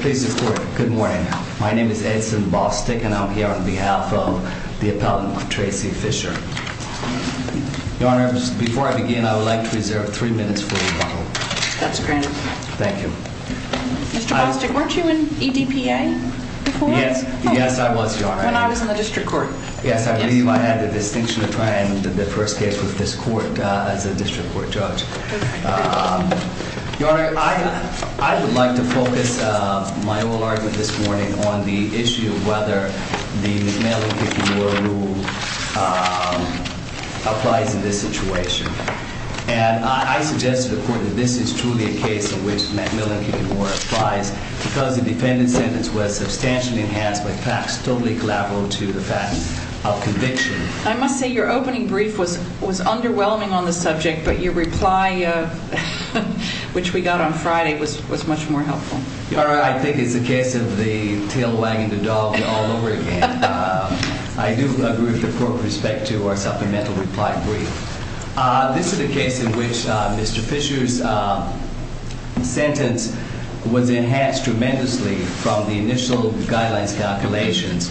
Please report. Good morning. My name is Ed Simpson. I'm the President of the United States Court of Appeals and I'm here on behalf of the appellant, Tracy Fisher. Your Honor, before I begin, I would like to reserve three minutes for rebuttal. That's granted. Thank you. Mr. Bostick, weren't you in EDPA before? Yes, I was, Your Honor. When I was in the district court. Yes, I believe I had the distinction of trying the first case with this court as a district court judge. Your Honor, I would like to focus my whole argument this morning on the issue of whether the McMillan-Kiffin War Rule applies in this situation. And I suggest to the Court that this is truly a case in which McMillan-Kiffin War applies because the defendant's sentence was substantially enhanced by facts totally collateral to the facts of conviction. I must say your opening brief was underwhelming on the subject, but your reply, which we got on Friday, was much more helpful. Your Honor, I think it's a case of the tail wagging the dog all over again. I do agree with the Court with respect to our supplemental reply brief. This is a case in which Mr. Fisher's sentence was enhanced tremendously from the initial guidelines calculations,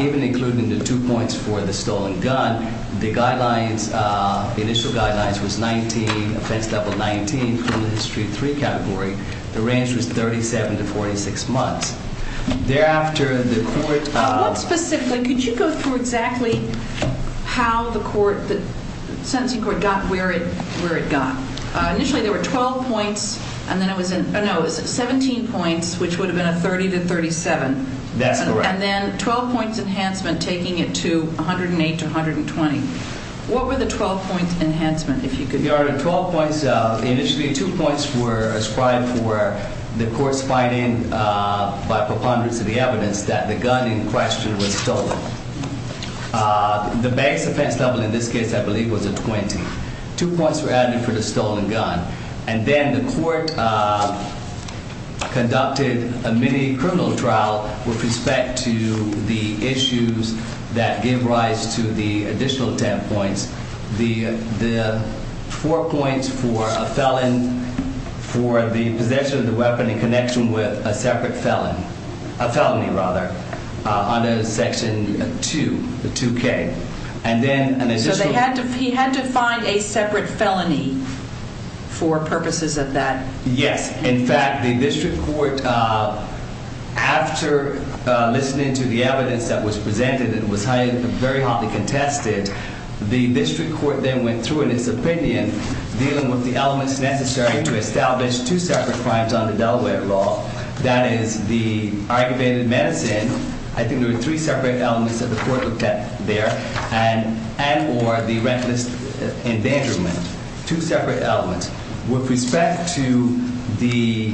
even including the two points for the stolen gun. The guidelines, the initial guidelines, was 19, offense level 19, criminal history 3 category. The range was 37 to 46 months. What specifically, could you go through exactly how the court, the sentencing court, got where it got? Initially there were 12 points, and then it was 17 points, which would have been a 30 to 37. That's correct. And then 12 points enhancement taking it to 108 to 120. What were the 12 points enhancement, if you could? Your Honor, 12 points, initially two points were ascribed for the court's finding by preponderance of the evidence that the gun in question was stolen. The base offense level in this case, I believe, was a 20. Two points were added for the stolen gun. And then the court conducted a mini criminal trial with respect to the issues that gave rise to the additional 10 points. The four points for a felon for the possession of the weapon in connection with a separate felon, a felony rather, under Section 2, the 2K. So he had to find a separate felony for purposes of that? Yes. In fact, the district court, after listening to the evidence that was presented, it was very hotly contested. The district court then went through in its opinion, dealing with the elements necessary to establish two separate crimes under Delaware law. That is the aggravated medicine. I think there were three separate elements that the court looked at there. And or the reckless endangerment. Two separate elements. With respect to the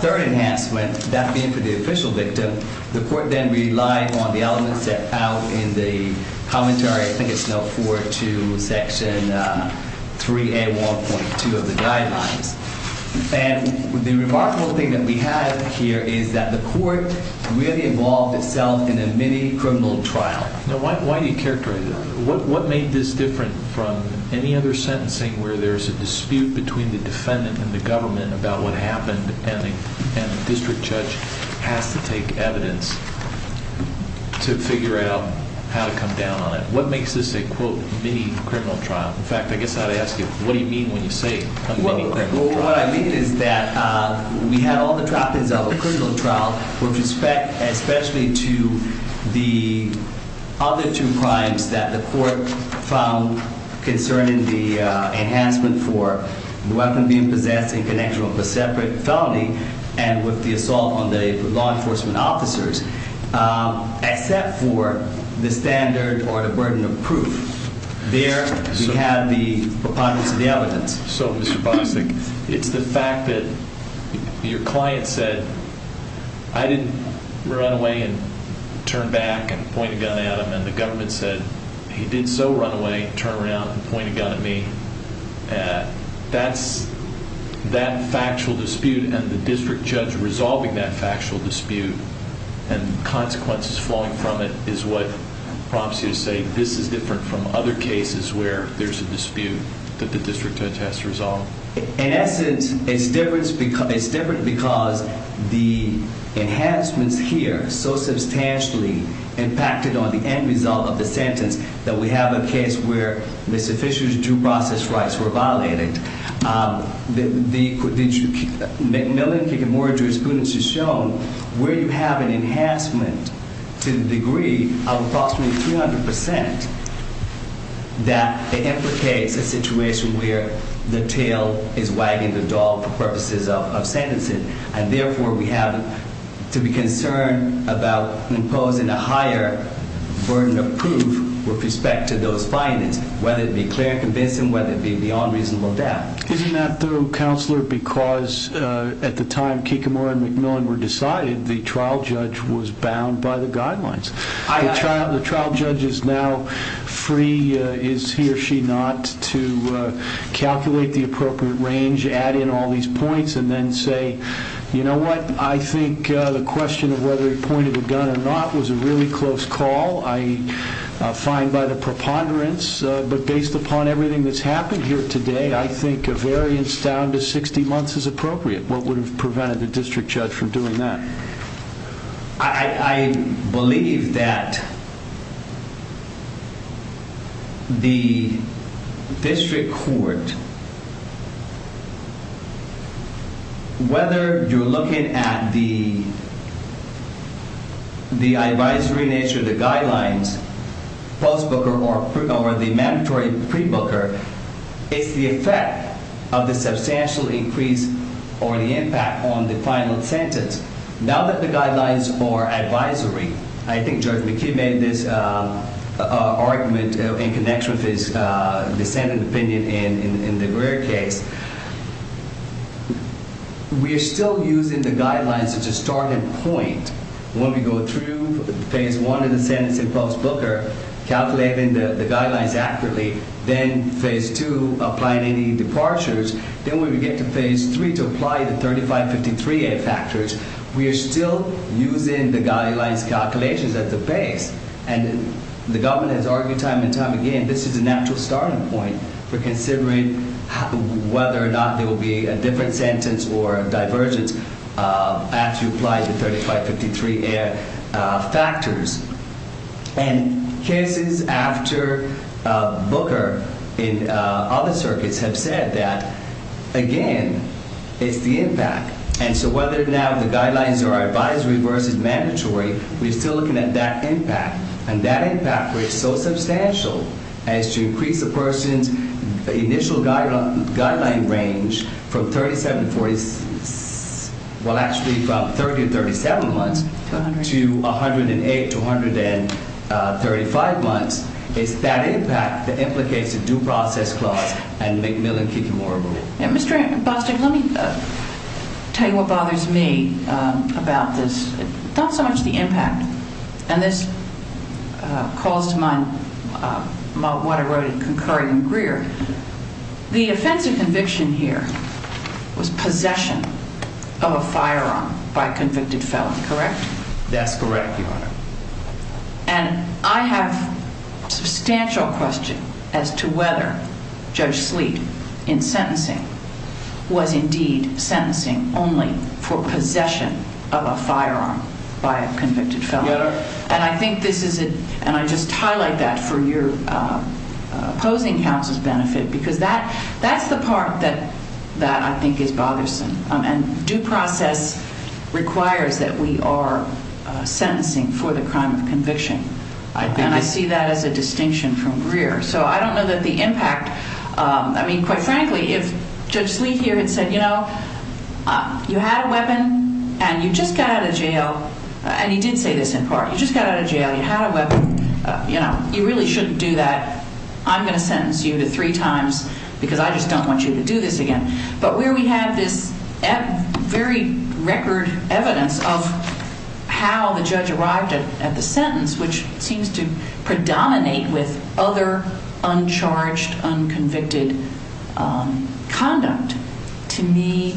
third enhancement, that being for the official victim, the court then relied on the elements set out in the commentary, I think it's note 4, to Section 3A1.2 of the guidelines. And the remarkable thing that we have here is that the court really involved itself in a mini criminal trial. Now, why do you characterize that? What made this different from any other sentencing where there's a dispute between the defendant and the government about what happened? And the district judge has to take evidence to figure out how to come down on it. What makes this a quote, mini criminal trial? In fact, I guess I'd ask you, what do you mean when you say a mini criminal trial? Well, what I mean is that we had all the trappings of a criminal trial with respect, especially to the other two crimes that the court found concerning the enhancement for the weapon being possessed in connection with a separate felony. And with the assault on the law enforcement officers, except for the standard or the burden of proof. There we have the preponderance of the evidence. So, Mr. Bosick, it's the fact that your client said, I didn't run away and turn back and point a gun at him. And the government said, he did so run away, turn around and point a gun at me. That's that factual dispute and the district judge resolving that factual dispute and consequences flowing from it is what prompts you to say this is different from other cases where there's a dispute that the district judge has to resolve. In essence, it's different because the enhancements here so substantially impacted on the end result of the sentence that we have a case where the sufficient due process rights were violated. The McMillan-Kig and Moore jurisprudence has shown where you have an enhancement to the degree of approximately 300% that it implicates a situation where the tail is wagging the dog for purposes of sentencing. And therefore, we have to be concerned about imposing a higher burden of proof with respect to those findings, whether it be clear, convincing, whether it be beyond reasonable doubt. Isn't that though, Counselor, because at the time Kik and Moore and McMillan were decided, the trial judge was bound by the guidelines. The trial judge is now free, is he or she not, to calculate the appropriate range, add in all these points and then say, you know what, I think the question of whether he pointed a gun or not was a really close call. I find by the preponderance, but based upon everything that's happened here today, I think a variance down to 60 months is appropriate. What would have prevented the district judge from doing that? I believe that the district court, whether you're looking at the advisory nature of the guidelines, post-booker or the mandatory pre-booker, is the effect of the substantial increase or the impact on the final sentence. Now that the guidelines are advisory, I think Judge McKee made this argument in connection with his dissenting opinion in the Greer case. We are still using the guidelines as a starting point. When we go through phase one of the sentence in post-booker, calculating the guidelines accurately, then phase two, applying any departures, then when we get to phase three to apply the 3553A factors, we are still using the guidelines calculations at the base. The government has argued time and time again, this is a natural starting point for considering whether or not there will be a different sentence or divergence after you apply the 3553A factors. Cases after booker in other circuits have said that, again, it's the impact. Whether or not the guidelines are advisory versus mandatory, we're still looking at that impact. That impact is so substantial as to increase a person's initial guideline range from 30 to 37 months to 108 to 135 months. It's that impact that implicates a due process clause and make Mill and Keefe more available. Mr. Bostick, let me tell you what bothers me about this. Not so much the impact. And this calls to mind what I wrote in concurring in Greer. The offensive conviction here was possession of a firearm by convicted felon, correct? That's correct, Your Honor. And I have substantial question as to whether Judge Sleet in sentencing was indeed sentencing only for possession of a firearm by a convicted felon. And I think this is, and I just highlight that for your opposing counsel's benefit because that's the part that I think is bothersome. And due process requires that we are sentencing for the crime of conviction. And I see that as a distinction from Greer. So I don't know that the impact, I mean, quite frankly, if Judge Sleet here had said, you know, you had a weapon and you just got out of jail. And he did say this in part. You just got out of jail. You had a weapon. You know, you really shouldn't do that. I'm going to sentence you to three times because I just don't want you to do this again. But where we have this very record evidence of how the judge arrived at the sentence, which seems to predominate with other uncharged, unconvicted conduct. To me,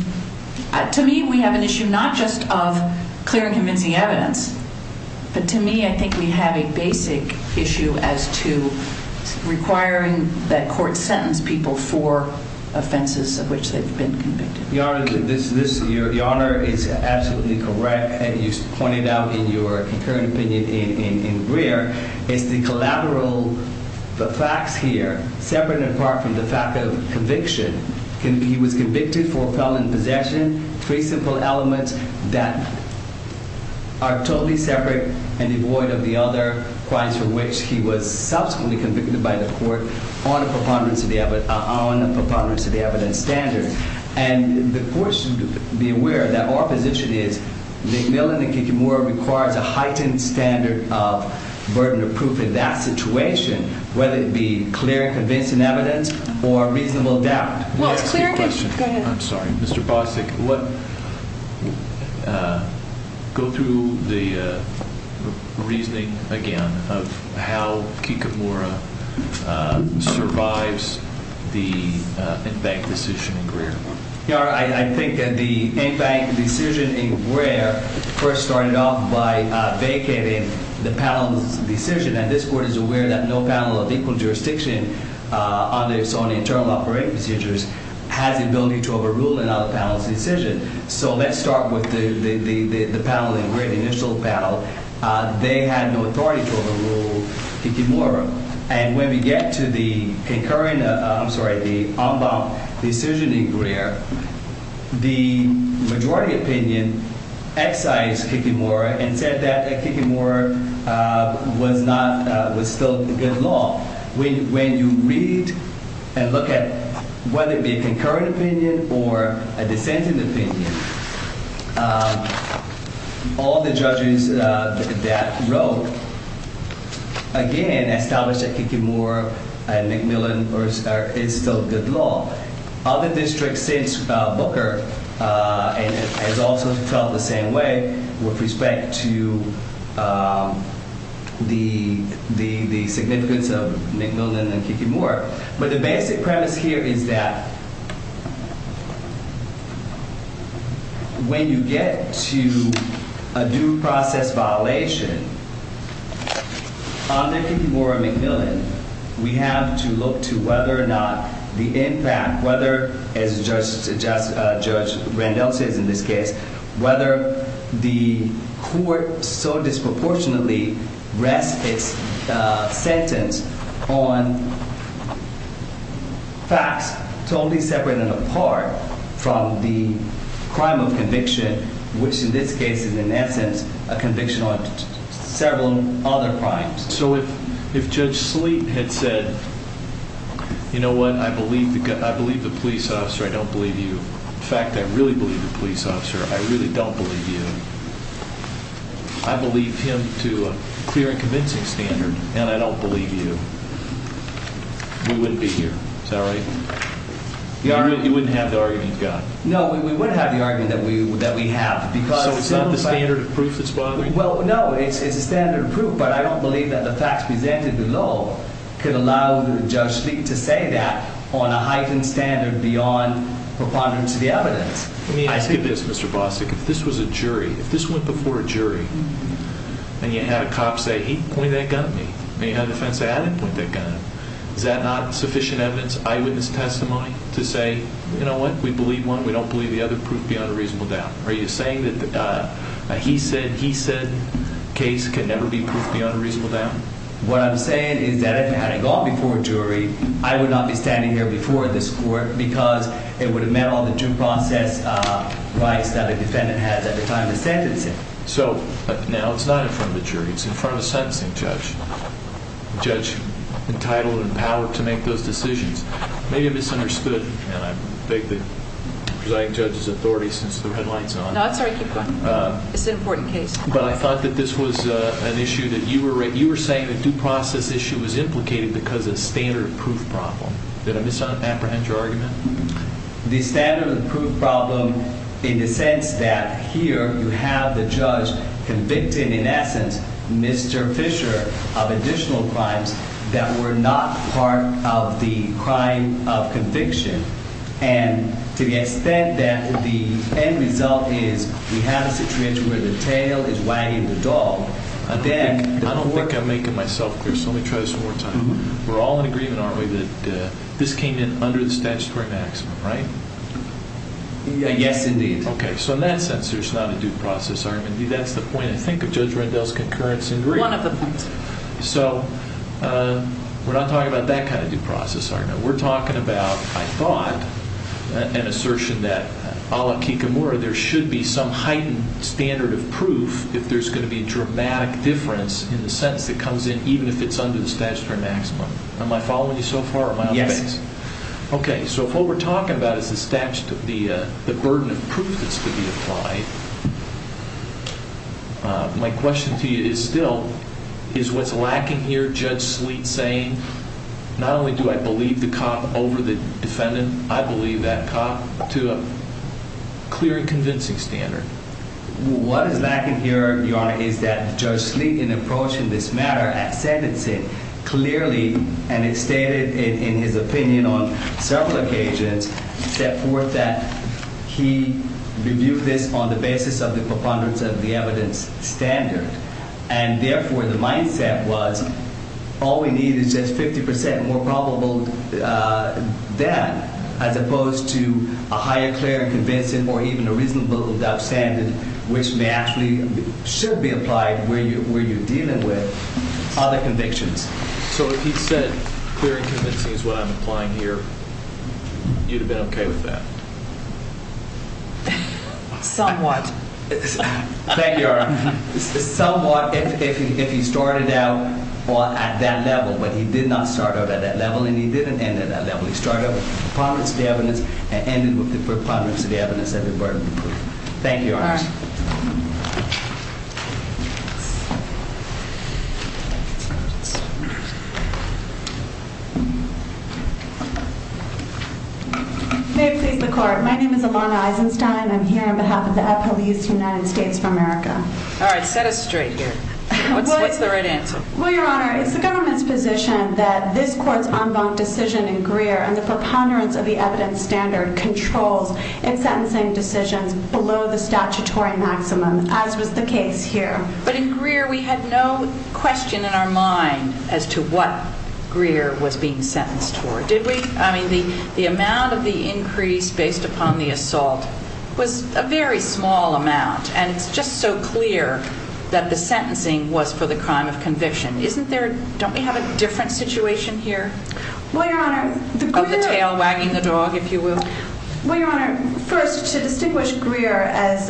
to me, we have an issue not just of clear and convincing evidence. But to me, I think we have a basic issue as to requiring that court sentence people for offenses of which they've been convicted. Your Honor, your Honor is absolutely correct. And you pointed out in your current opinion in Greer, it's the collateral, the facts here, separate and apart from the fact of conviction. He was convicted for felon possession, three simple elements that are totally separate and devoid of the other crimes for which he was subsequently convicted by the court on a preponderance of the evidence standard. And the court should be aware that our position is the villain in Kikimura requires a heightened standard of burden of proof in that situation, whether it be clear, convincing evidence or reasonable doubt. I'm sorry, Mr. Bosick, go through the reasoning again of how Kikimura survives the in-bank decision in Greer. Your Honor, I think that the in-bank decision in Greer first started off by vacating the panel's decision. And this court is aware that no panel of equal jurisdiction on its own internal operating procedures has the ability to overrule another panel's decision. So let's start with the panel in Greer, the initial panel. They had no authority to overrule Kikimura. And when we get to the concurrent, I'm sorry, the in-bank decision in Greer, the majority opinion excised Kikimura and said that Kikimura was not, was still good law. When you read and look at whether it be a concurrent opinion or a dissenting opinion, all the judges that wrote, again, established that Kikimura and McMillan is still good law. Other districts since Booker has also felt the same way with respect to the significance of McMillan and Kikimura. But the basic premise here is that when you get to a due process violation under Kikimura-McMillan, we have to look to whether or not the impact, whether, as Judge Randolph says in this case, whether the court so disproportionately rests its sentence on facts totally separate and apart from the crime of conviction, which in this case is in essence a conviction on several other crimes. So if Judge Sleet had said, you know what? I believe the police officer. I don't believe you. In fact, I really believe the police officer. I really don't believe you. I believe him to a clear and convincing standard. And I don't believe you. We wouldn't be here. Is that right? You wouldn't have the argument you've got? No, we wouldn't have the argument that we have. So it's not the standard of proof that's bothering you? Well, no, it's a standard of proof. But I don't believe that the facts presented below could allow Judge Sleet to say that on a heightened standard beyond preponderance of the evidence. Let me ask you this, Mr. Bostick. If this was a jury, if this went before a jury, and you had a cop say, he pointed that gun at me, and you had a defense say, I didn't point that gun at him, is that not sufficient evidence, eyewitness testimony, to say, you know what? We believe one. We don't believe the other. Proof beyond a reasonable doubt. Are you saying that the he said, he said case can never be proof beyond a reasonable doubt? What I'm saying is that if it hadn't gone before a jury, I would not be standing here before this court because it would have met all the due process rights that a defendant has at the time of sentencing. So now it's not in front of a jury. It's in front of a sentencing judge, a judge entitled and empowered to make those decisions. Maybe I misunderstood, and I beg the presiding judge's authority since the red light's on. No, that's all right. Keep going. It's an important case. But I thought that this was an issue that you were saying the due process issue was implicated because of a standard of proof problem. Did I misapprehend your argument? The standard of proof problem in the sense that here you have the judge convicted, in essence, Mr. Fisher of additional crimes that were not part of the crime of conviction. And to the extent that the end result is we have a situation where the tail is wagging the dog. I don't think I'm making myself clear, so let me try this one more time. We're all in agreement, aren't we, that this came in under the statutory maximum, right? Yes, indeed. Okay, so in that sense, there's not a due process argument. That's the point, I think, of Judge Rendell's concurrence. One of the points. So we're not talking about that kind of due process argument. We're talking about, I thought, an assertion that, a la Kikamura, there should be some heightened standard of proof if there's going to be a dramatic difference in the sentence that comes in, even if it's under the statutory maximum. Am I following you so far, or am I off base? Yes. Okay, so if what we're talking about is the burden of proof that's to be applied, my question to you is still, is what's lacking here, Judge Sleet saying, not only do I believe the cop over the defendant, I believe that cop, to a clear and convincing standard? What is lacking here, Your Honor, is that Judge Sleet, in approaching this matter at sentencing, clearly, and it's stated in his opinion on several occasions, set forth that he reviewed this on the basis of the preponderance of the evidence standard. And therefore, the mindset was, all we need is just 50% more probable than, as opposed to a higher clear and convincing or even a reasonable doubt standard, which may actually, should be applied where you're dealing with other convictions. So if he said clear and convincing is what I'm applying here, you'd have been okay with that? Somewhat. Thank you, Your Honor. Somewhat, if he started out at that level, but he did not start out at that level and he didn't end at that level. He started with the preponderance of the evidence and ended with the preponderance of the evidence of the burden of proof. Thank you, Your Honor. All right. May it please the Court. My name is Ilana Eisenstein. I'm here on behalf of the Epel Youth United States of America. All right, set us straight here. What's the right answer? Well, Your Honor, it's the government's position that this Court's en banc decision in Greer and the preponderance of the evidence standard controls in sentencing decisions below the statutory maximum, as was the case here. But in Greer, we had no question in our mind as to what Greer was being sentenced for. Did we? I mean, the amount of the increase based upon the assault was a very small amount, and it's just so clear that the sentencing was for the crime of conviction. Don't we have a different situation here? Well, Your Honor, the Greer... Of the tail wagging the dog, if you will. Well, Your Honor, first, to distinguish Greer, as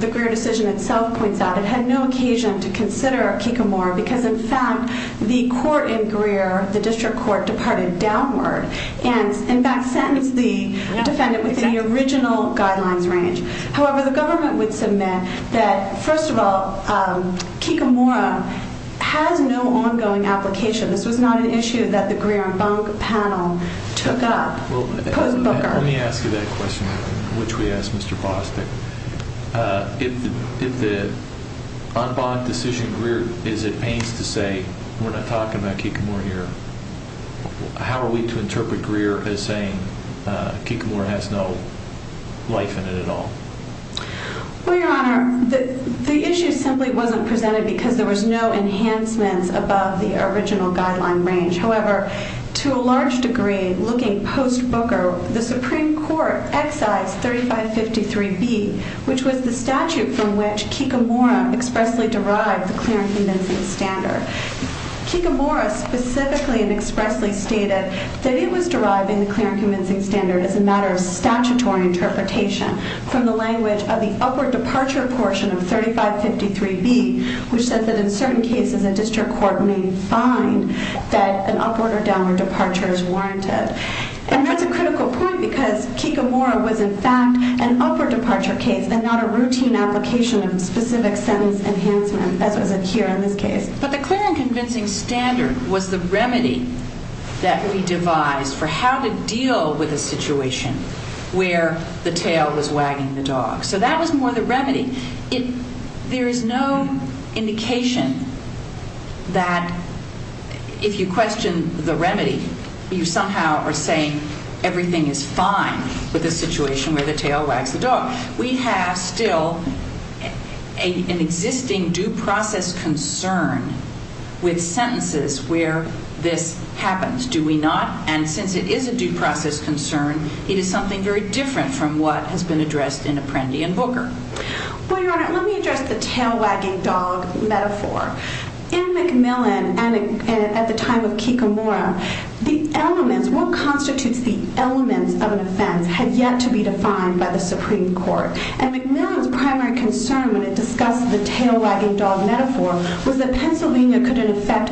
the Greer decision itself points out, it had no occasion to consider Kikamora because, in fact, the court in Greer, the district court, departed downward and, in fact, sentenced the defendant within the original guidelines range. However, the government would submit that, first of all, Kikamora has no ongoing application. This was not an issue that the Greer en banc panel took up. Well, let me ask you that question, which we asked Mr. Bostic. If the en banc decision in Greer is at pains to say, we're not talking about Kikamora here, how are we to interpret Greer as saying Kikamora has no life in it at all? Well, Your Honor, the issue simply wasn't presented because there was no enhancements above the original guideline range. However, to a large degree, looking post-Booker, the Supreme Court excised 3553B, which was the statute from which Kikamora expressly derived the Clarence convincing standard. Kikamora specifically and expressly stated that it was deriving the Clarence convincing standard as a matter of statutory interpretation from the language of the upward departure portion of 3553B, which says that in certain cases a district court may find that an upward or downward departure is warranted. And that's a critical point because Kikamora was, in fact, an upward departure case and not a routine application of specific sentence enhancement, as was it here in this case. The Clarence convincing standard was the remedy that we devised for how to deal with a situation where the tail was wagging the dog. So that was more the remedy. There is no indication that if you question the remedy, you somehow are saying everything is fine with a situation where the tail wags the dog. We have still an existing due process concern with sentences where this happens, do we not? And since it is a due process concern, it is something very different from what has been addressed in Apprendi and Booker. Well, Your Honor, let me address the tail wagging dog metaphor. In Macmillan and at the time of Kikamora, the elements, what constitutes the elements of an offense had yet to be defined by the Supreme Court. And Macmillan's primary concern when it discussed the tail wagging dog metaphor was that Pennsylvania could in effect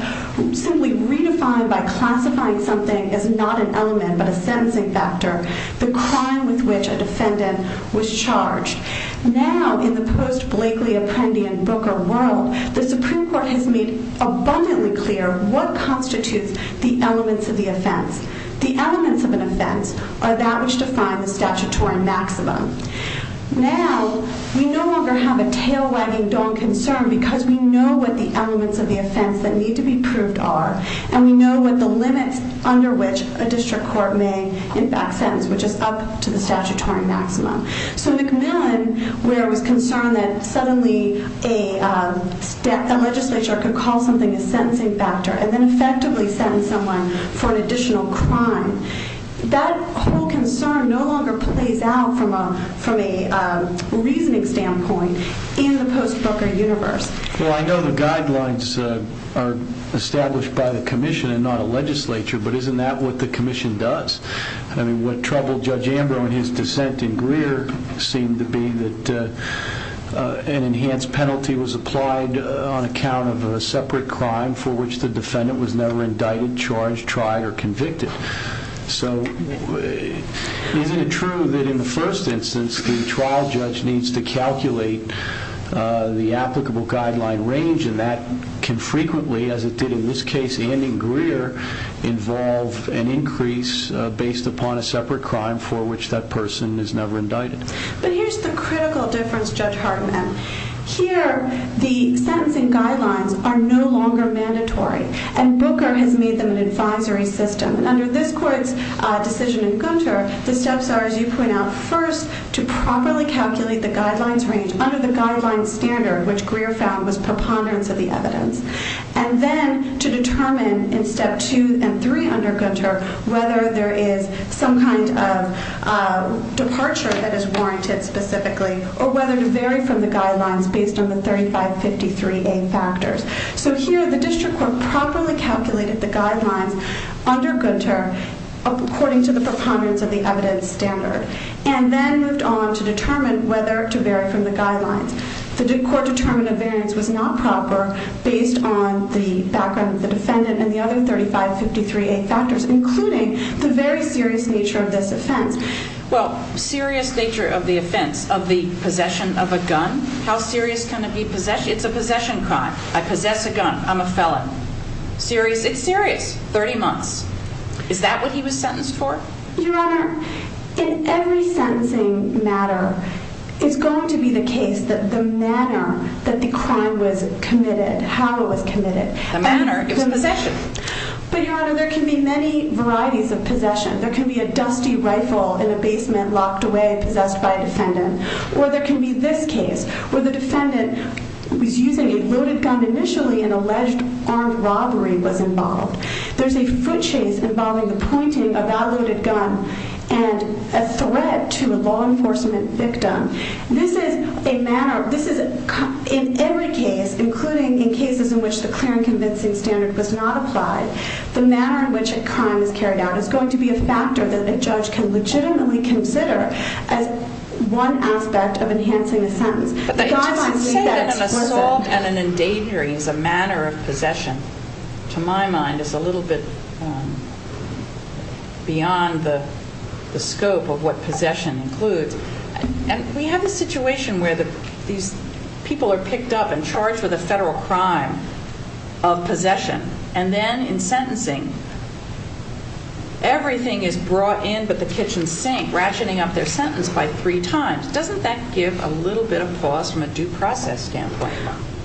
simply redefine by classifying something as not an element but a sentencing factor the crime with which a defendant was charged. Now, in the post-Blakely Apprendi and Booker world, the Supreme Court has made abundantly clear what constitutes the elements of the offense. The elements of an offense are that which define the statutory maximum. Now, we no longer have a tail wagging dog concern because we know what the elements of the offense that need to be proved are, and we know what the limits under which a district court may in fact sentence, which is up to the statutory maximum. Even where it was concerned that suddenly a legislature could call something a sentencing factor and then effectively sentence someone for an additional crime. That whole concern no longer plays out from a reasoning standpoint in the post-Booker universe. Well, I know the guidelines are established by the commission and not a legislature, but isn't that what the commission does? I mean, what troubled Judge Ambrose in his dissent in Greer seemed to be that an enhanced penalty was applied on account of a separate crime for which the defendant was never indicted, charged, tried, or convicted. So, isn't it true that in the first instance the trial judge needs to calculate the applicable guideline range and that can frequently, as it did in this case and in Greer, involve an increase based upon a separate crime for which that person is never indicted? But here's the critical difference, Judge Hartman. Here, the sentencing guidelines are no longer mandatory and Booker has made them an advisory system. And under this court's decision in Gunter, the steps are, as you point out, first to properly calculate the guidelines range under the guidelines standard, which Greer found was preponderance of the evidence. And then to determine in step two and three under Gunter whether there is some kind of departure that is warranted specifically or whether to vary from the guidelines based on the 3553A factors. So here, the district court properly calculated the guidelines under Gunter according to the preponderance of the evidence standard and then moved on to determine whether to vary from the guidelines. The court determined a variance was not proper based on the background of the defendant and the other 3553A factors, including the very serious nature of this offense. Well, serious nature of the offense, of the possession of a gun, how serious can it be? It's a possession crime. I possess a gun. I'm a felon. Serious? It's serious. 30 months. Is that what he was sentenced for? Your Honor, in every sentencing matter, it's going to be the case that the manner that the crime was committed, how it was committed. The manner? It was possession. But, Your Honor, there can be many varieties of possession. There can be a dusty rifle in a basement locked away, possessed by a defendant. Or there can be this case where the defendant was using a loaded gun initially and alleged armed robbery was involved. There's a foot chase involving the pointing of that loaded gun and a threat to a law enforcement victim. This is a manner, this is, in every case, including in cases in which the clear and convincing standard was not applied, the manner in which a crime is carried out is going to be a factor that a judge can legitimately consider as one aspect of enhancing a sentence. But that doesn't say that an assault and an endangering is a manner of possession. To my mind, it's a little bit beyond the scope of what possession includes. And we have a situation where these people are picked up and charged with a federal crime of possession. And then, in sentencing, everything is brought in but the kitchen sink, ratcheting up their sentence by three times. Doesn't that give a little bit of pause from a due process standpoint?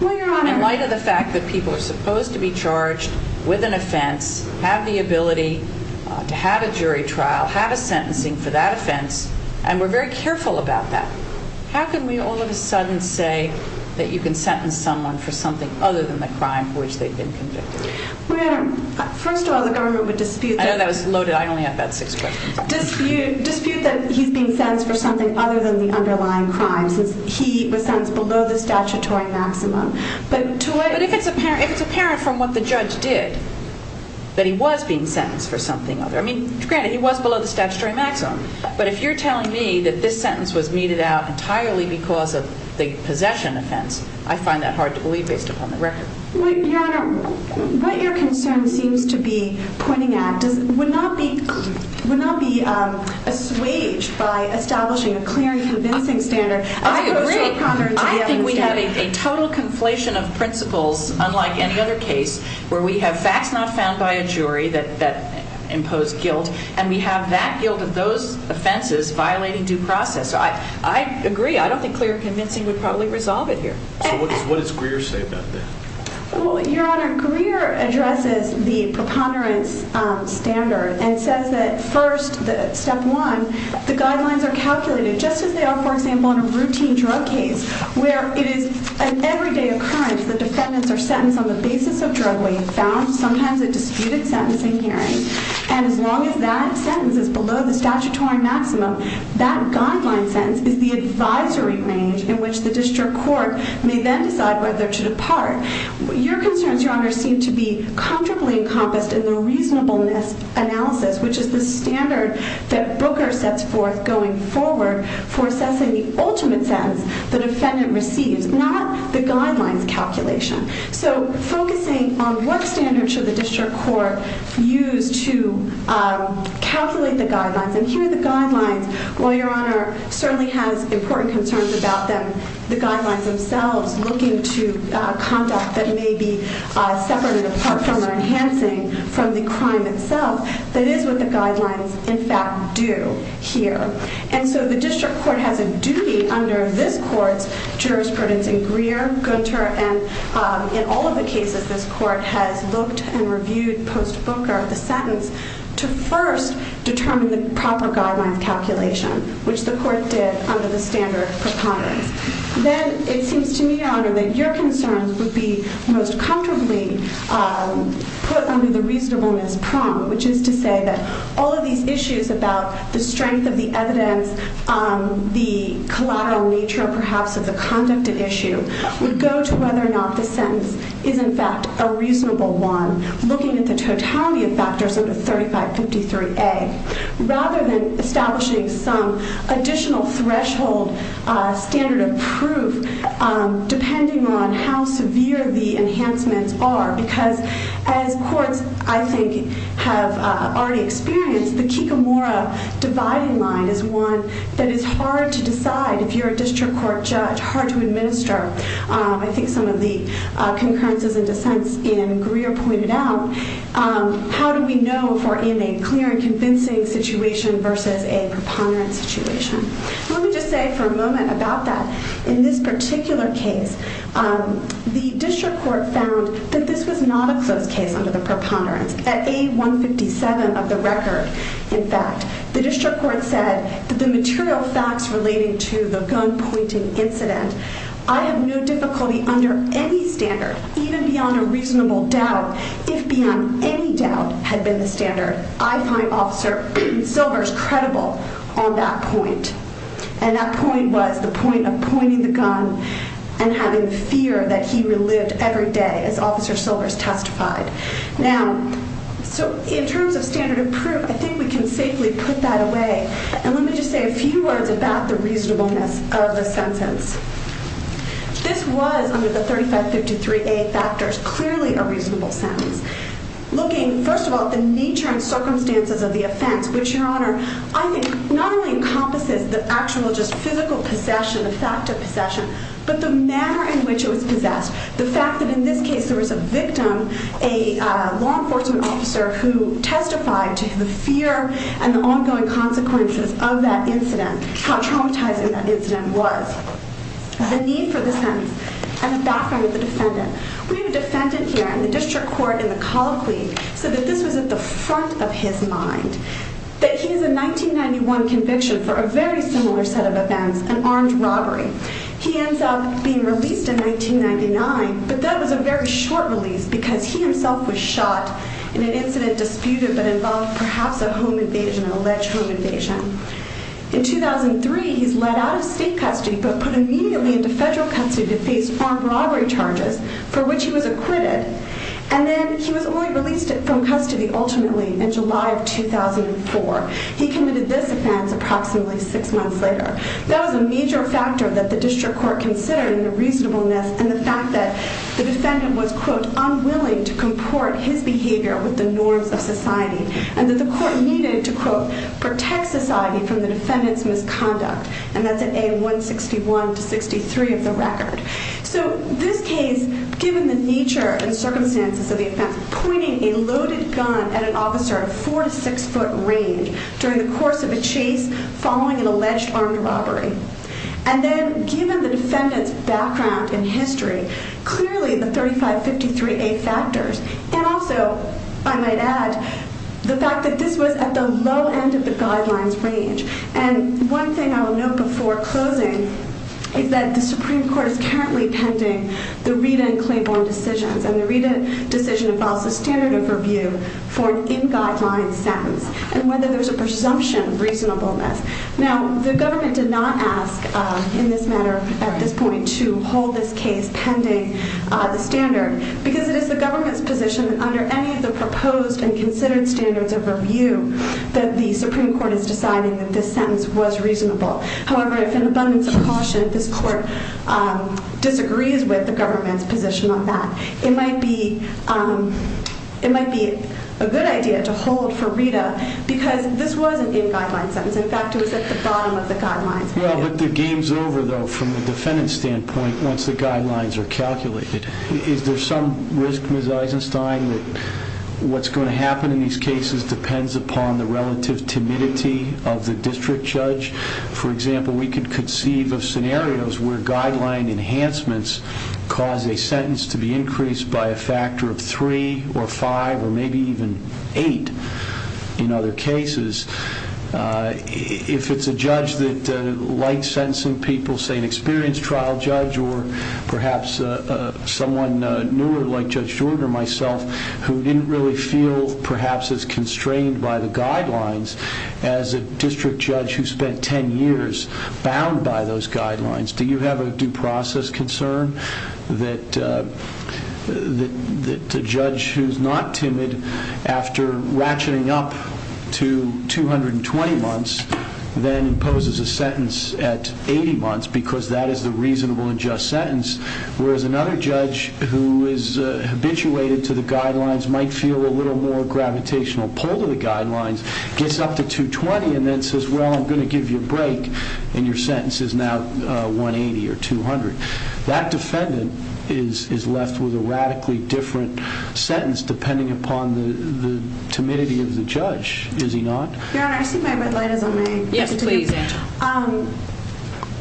Well, Your Honor, in light of the fact that people are supposed to be charged with an offense, have the ability to have a jury trial, have a sentencing for that offense, and we're very careful about that. How can we all of a sudden say that you can sentence someone for something other than the crime for which they've been convicted? Well, Your Honor, first of all, the government would dispute that. I know that was loaded. I only have about six questions. Dispute that he's being sentenced for something other than the underlying crime, since he was sentenced below the statutory maximum. But if it's apparent from what the judge did, that he was being sentenced for something other. I mean, granted, he was below the statutory maximum. But if you're telling me that this sentence was meted out entirely because of the possession offense, I find that hard to believe based upon the record. Your Honor, what your concern seems to be pointing at would not be assuaged by establishing a clear and convincing standard. I agree. I think we have a total conflation of principles, unlike any other case, where we have facts not found by a jury that impose guilt, and we have that guilt of those offenses violating due process. I agree. I don't think clear and convincing would probably resolve it here. So what does Greer say about that? Well, Your Honor, Greer addresses the preponderance standard and says that first, step one, the guidelines are calculated just as they are, for example, in a routine drug case, where it is an everyday occurrence that defendants are sentenced on the basis of drug weight, found, sometimes a disputed sentencing hearing. And as long as that sentence is below the statutory maximum, that guideline sentence is the advisory range in which the district court may then decide whether to depart. Your concerns, Your Honor, seem to be comfortably encompassed in the reasonableness analysis, which is the standard that Booker sets forth going forward for assessing the ultimate sentence the defendant receives, not the guidelines calculation. So focusing on what standards should the district court use to calculate the guidelines, and here the guidelines, while Your Honor certainly has important concerns about them, the guidelines themselves looking to conduct that may be separated apart from or enhancing from the crime itself, that is what the guidelines in fact do here. And so the district court has a duty under this court's jurisprudence in Greer, Gunter, and in all of the cases this court has looked and reviewed post-Booker the sentence to first determine the proper guidelines calculation, which the court did under the standard preponderance. Then it seems to me, Your Honor, that your concerns would be most comfortably put under the reasonableness prompt, which is to say that all of these issues about the strength of the evidence, the collateral nature perhaps of the conduct at issue, would go to whether or not the sentence is in fact a reasonable one, looking at the totality of factors under 3553A. Rather than establishing some additional threshold standard of proof, depending on how severe the enhancements are, because as courts, I think, have already experienced, the Kikamora dividing line is one that is hard to decide if you're a district court judge, hard to administer. I think some of the concurrences and dissents in Greer pointed out, how do we know if we're in a clear and convincing situation versus a preponderance situation? Let me just say for a moment about that. In this particular case, the district court found that this was not a closed case under the preponderance. At A157 of the record, in fact, the district court said that the material facts relating to the gun pointing incident, I have no difficulty under any standard, even beyond a reasonable doubt, if beyond any doubt, had been the standard. I find Officer Silvers credible on that point. And that point was the point of pointing the gun and having fear that he relived every day, as Officer Silvers testified. Now, so in terms of standard of proof, I think we can safely put that away. And let me just say a few words about the reasonableness of the sentence. This was, under the 3553A factors, clearly a reasonable sentence. Looking, first of all, at the nature and circumstances of the offense, which, Your Honor, I think not only encompasses the actual just physical possession, the fact of possession, but the manner in which it was possessed. The fact that in this case there was a victim, a law enforcement officer, who testified to the fear and the ongoing consequences of that incident, how traumatizing that incident was. The need for the sentence, and the background of the defendant. We have a defendant here, and the district court in the colloquy said that this was at the front of his mind. That he has a 1991 conviction for a very similar set of events, an armed robbery. He ends up being released in 1999, but that was a very short release because he himself was shot in an incident disputed but involved perhaps a home invasion, an alleged home invasion. In 2003, he's let out of state custody, but put immediately into federal custody to face armed robbery charges, for which he was acquitted. And then he was only released from custody ultimately in July of 2004. He committed this offense approximately six months later. That was a major factor that the district court considered in the reasonableness and the fact that the defendant was, quote, unwilling to comport his behavior with the norms of society. And that the court needed to, quote, protect society from the defendant's misconduct. And that's at A161 to 63 of the record. So this case, given the nature and circumstances of the offense, pointing a loaded gun at an officer of four to six foot range during the course of a chase following an alleged armed robbery. And then given the defendant's background in history, clearly the 3553A factors. And also, I might add, the fact that this was at the low end of the guidelines range. And one thing I will note before closing is that the Supreme Court is currently pending the Rita and Claiborne decisions. And the Rita decision involves a standard of review for an in-guideline sentence and whether there's a presumption of reasonableness. Now, the government did not ask in this manner at this point to hold this case pending the standard. Because it is the government's position that under any of the proposed and considered standards of review that the Supreme Court is deciding that this sentence was reasonable. However, if in abundance of caution, this court disagrees with the government's position on that, it might be a good idea to hold for Rita. Because this was an in-guideline sentence. In fact, it was at the bottom of the guidelines. Well, but the game's over, though, from the defendant's standpoint, once the guidelines are calculated. Is there some risk, Ms. Eisenstein, that what's going to happen in these cases depends upon the relative timidity of the district judge? For example, we could conceive of scenarios where guideline enhancements cause a sentence to be increased by a factor of three or five or maybe even eight in other cases. If it's a judge that likes sentencing people, say an experienced trial judge or perhaps someone newer like Judge Jordan or myself, who didn't really feel perhaps as constrained by the guidelines as a district judge who spent ten years bound by those guidelines, do you have a due process concern that a judge who's not timid after ratcheting up to 220 months then imposes a sentence at 80 months because that is the reasonable and just sentence, whereas another judge who is habituated to the guidelines, might feel a little more gravitational pull to the guidelines, gets up to 220 and then says, well, I'm going to give you a break, and your sentence is now 180 or 200. That defendant is left with a radically different sentence depending upon the timidity of the judge, is he not? Your Honor, I see my red light is on me. Yes, please, Angela.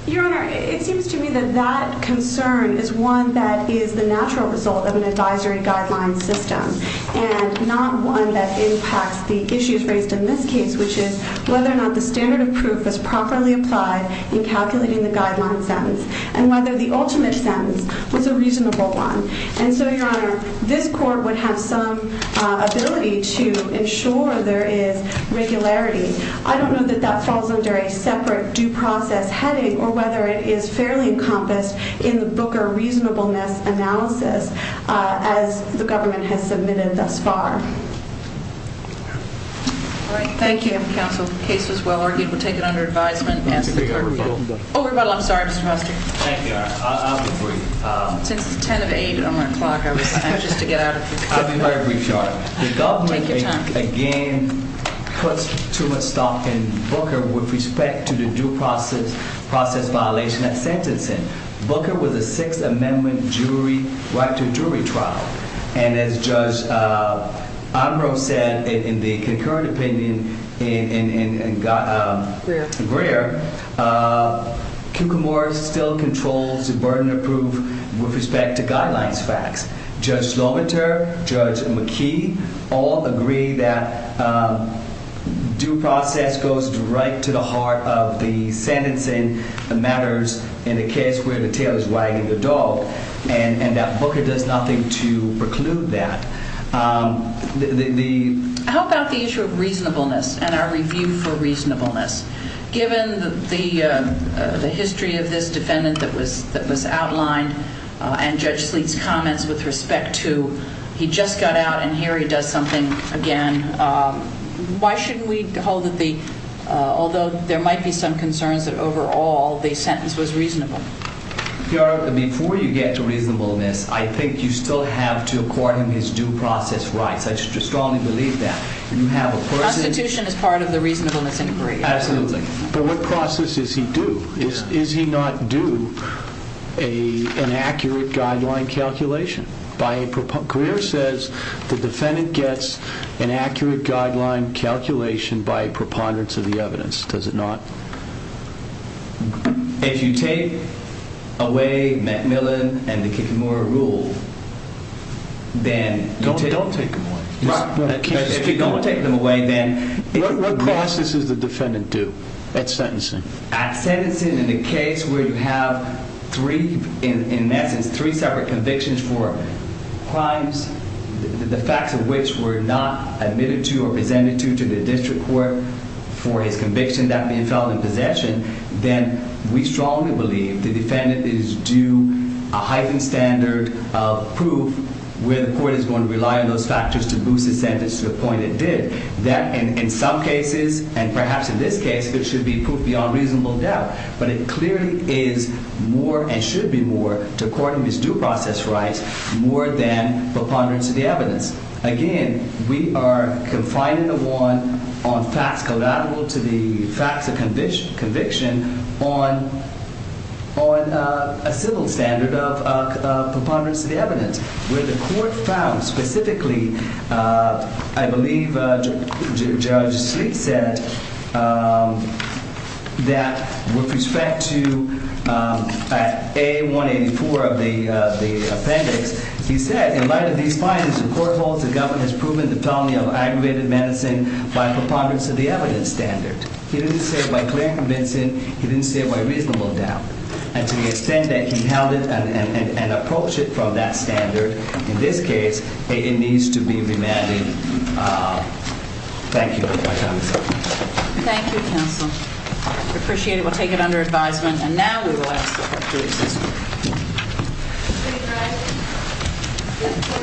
Your Honor, it seems to me that that concern is one that is the natural result of an advisory guideline system and not one that impacts the issues raised in this case, which is whether or not the standard of proof is properly applied in calculating the guideline sentence and whether the ultimate sentence was a reasonable one. And so, Your Honor, this court would have some ability to ensure there is regularity. I don't know that that falls under a separate due process heading or whether it is fairly encompassed in the Booker reasonableness analysis as the government has submitted thus far. All right, thank you. Counsel, the case was well-argued. We'll take it under advisement. Oh, rebuttal. I'm sorry, Mr. Foster. Thank you, Your Honor. I'll be brief. Since it's 10 of 8 on my clock, I was anxious to get out of here. I'll be very brief, Your Honor. Take your time. I think, again, puts too much stock in Booker with respect to the due process violation of sentencing. Booker was a Sixth Amendment jury, right to jury trial. And as Judge Ambrose said in the concurrent opinion in Greer, Kukumar still controls the burden of proof with respect to guidelines facts. Judge Lohmater, Judge McKee all agree that due process goes right to the heart of the sentencing matters in the case where the tail is wagging the dog, and that Booker does nothing to preclude that. How about the issue of reasonableness and our review for reasonableness? Given the history of this defendant that was outlined and Judge Sleet's comments with respect to he just got out and here he does something again, why shouldn't we hold that although there might be some concerns that overall the sentence was reasonable? Your Honor, before you get to reasonableness, I think you still have to accord him his due process rights. I strongly believe that. Constitution is part of the reasonableness inquiry. Absolutely. But what process does he do? Is he not due an accurate guideline calculation? Greer says the defendant gets an accurate guideline calculation by a preponderance of the evidence. Does it not? If you take away McMillan and the Kukumar rule, then... Don't take them away. If you don't take them away, then... What process does the defendant do at sentencing? At sentencing, in a case where you have, in essence, three separate convictions for crimes, the facts of which were not admitted to or presented to the district court for his conviction not being held in possession, then we strongly believe the defendant is due a heightened standard of proof where the court is going to rely on those factors to boost his sentence to the point it did. That in some cases, and perhaps in this case, there should be proof beyond reasonable doubt. But it clearly is more, and should be more, to accord him his due process rights more than preponderance of the evidence. Again, we are confining the one on facts collateral to the facts of conviction on a civil standard of preponderance of the evidence where the court found, specifically, I believe Judge Sleet said, that with respect to A184 of the appendix, he said, in light of these findings, the court holds the government has proven the felony of aggravated menacing by preponderance of the evidence standard. He didn't say it by clear convincing. He didn't say it by reasonable doubt. And to the extent that he held it and approached it from that standard, in this case, it needs to be remanded. Thank you. My time is up. Thank you, counsel. We appreciate it. We'll take it under advisement. And now we will ask the court to excuse me. Please rise. This court will be adjourned until Tuesday, May 8, at 10 a.m.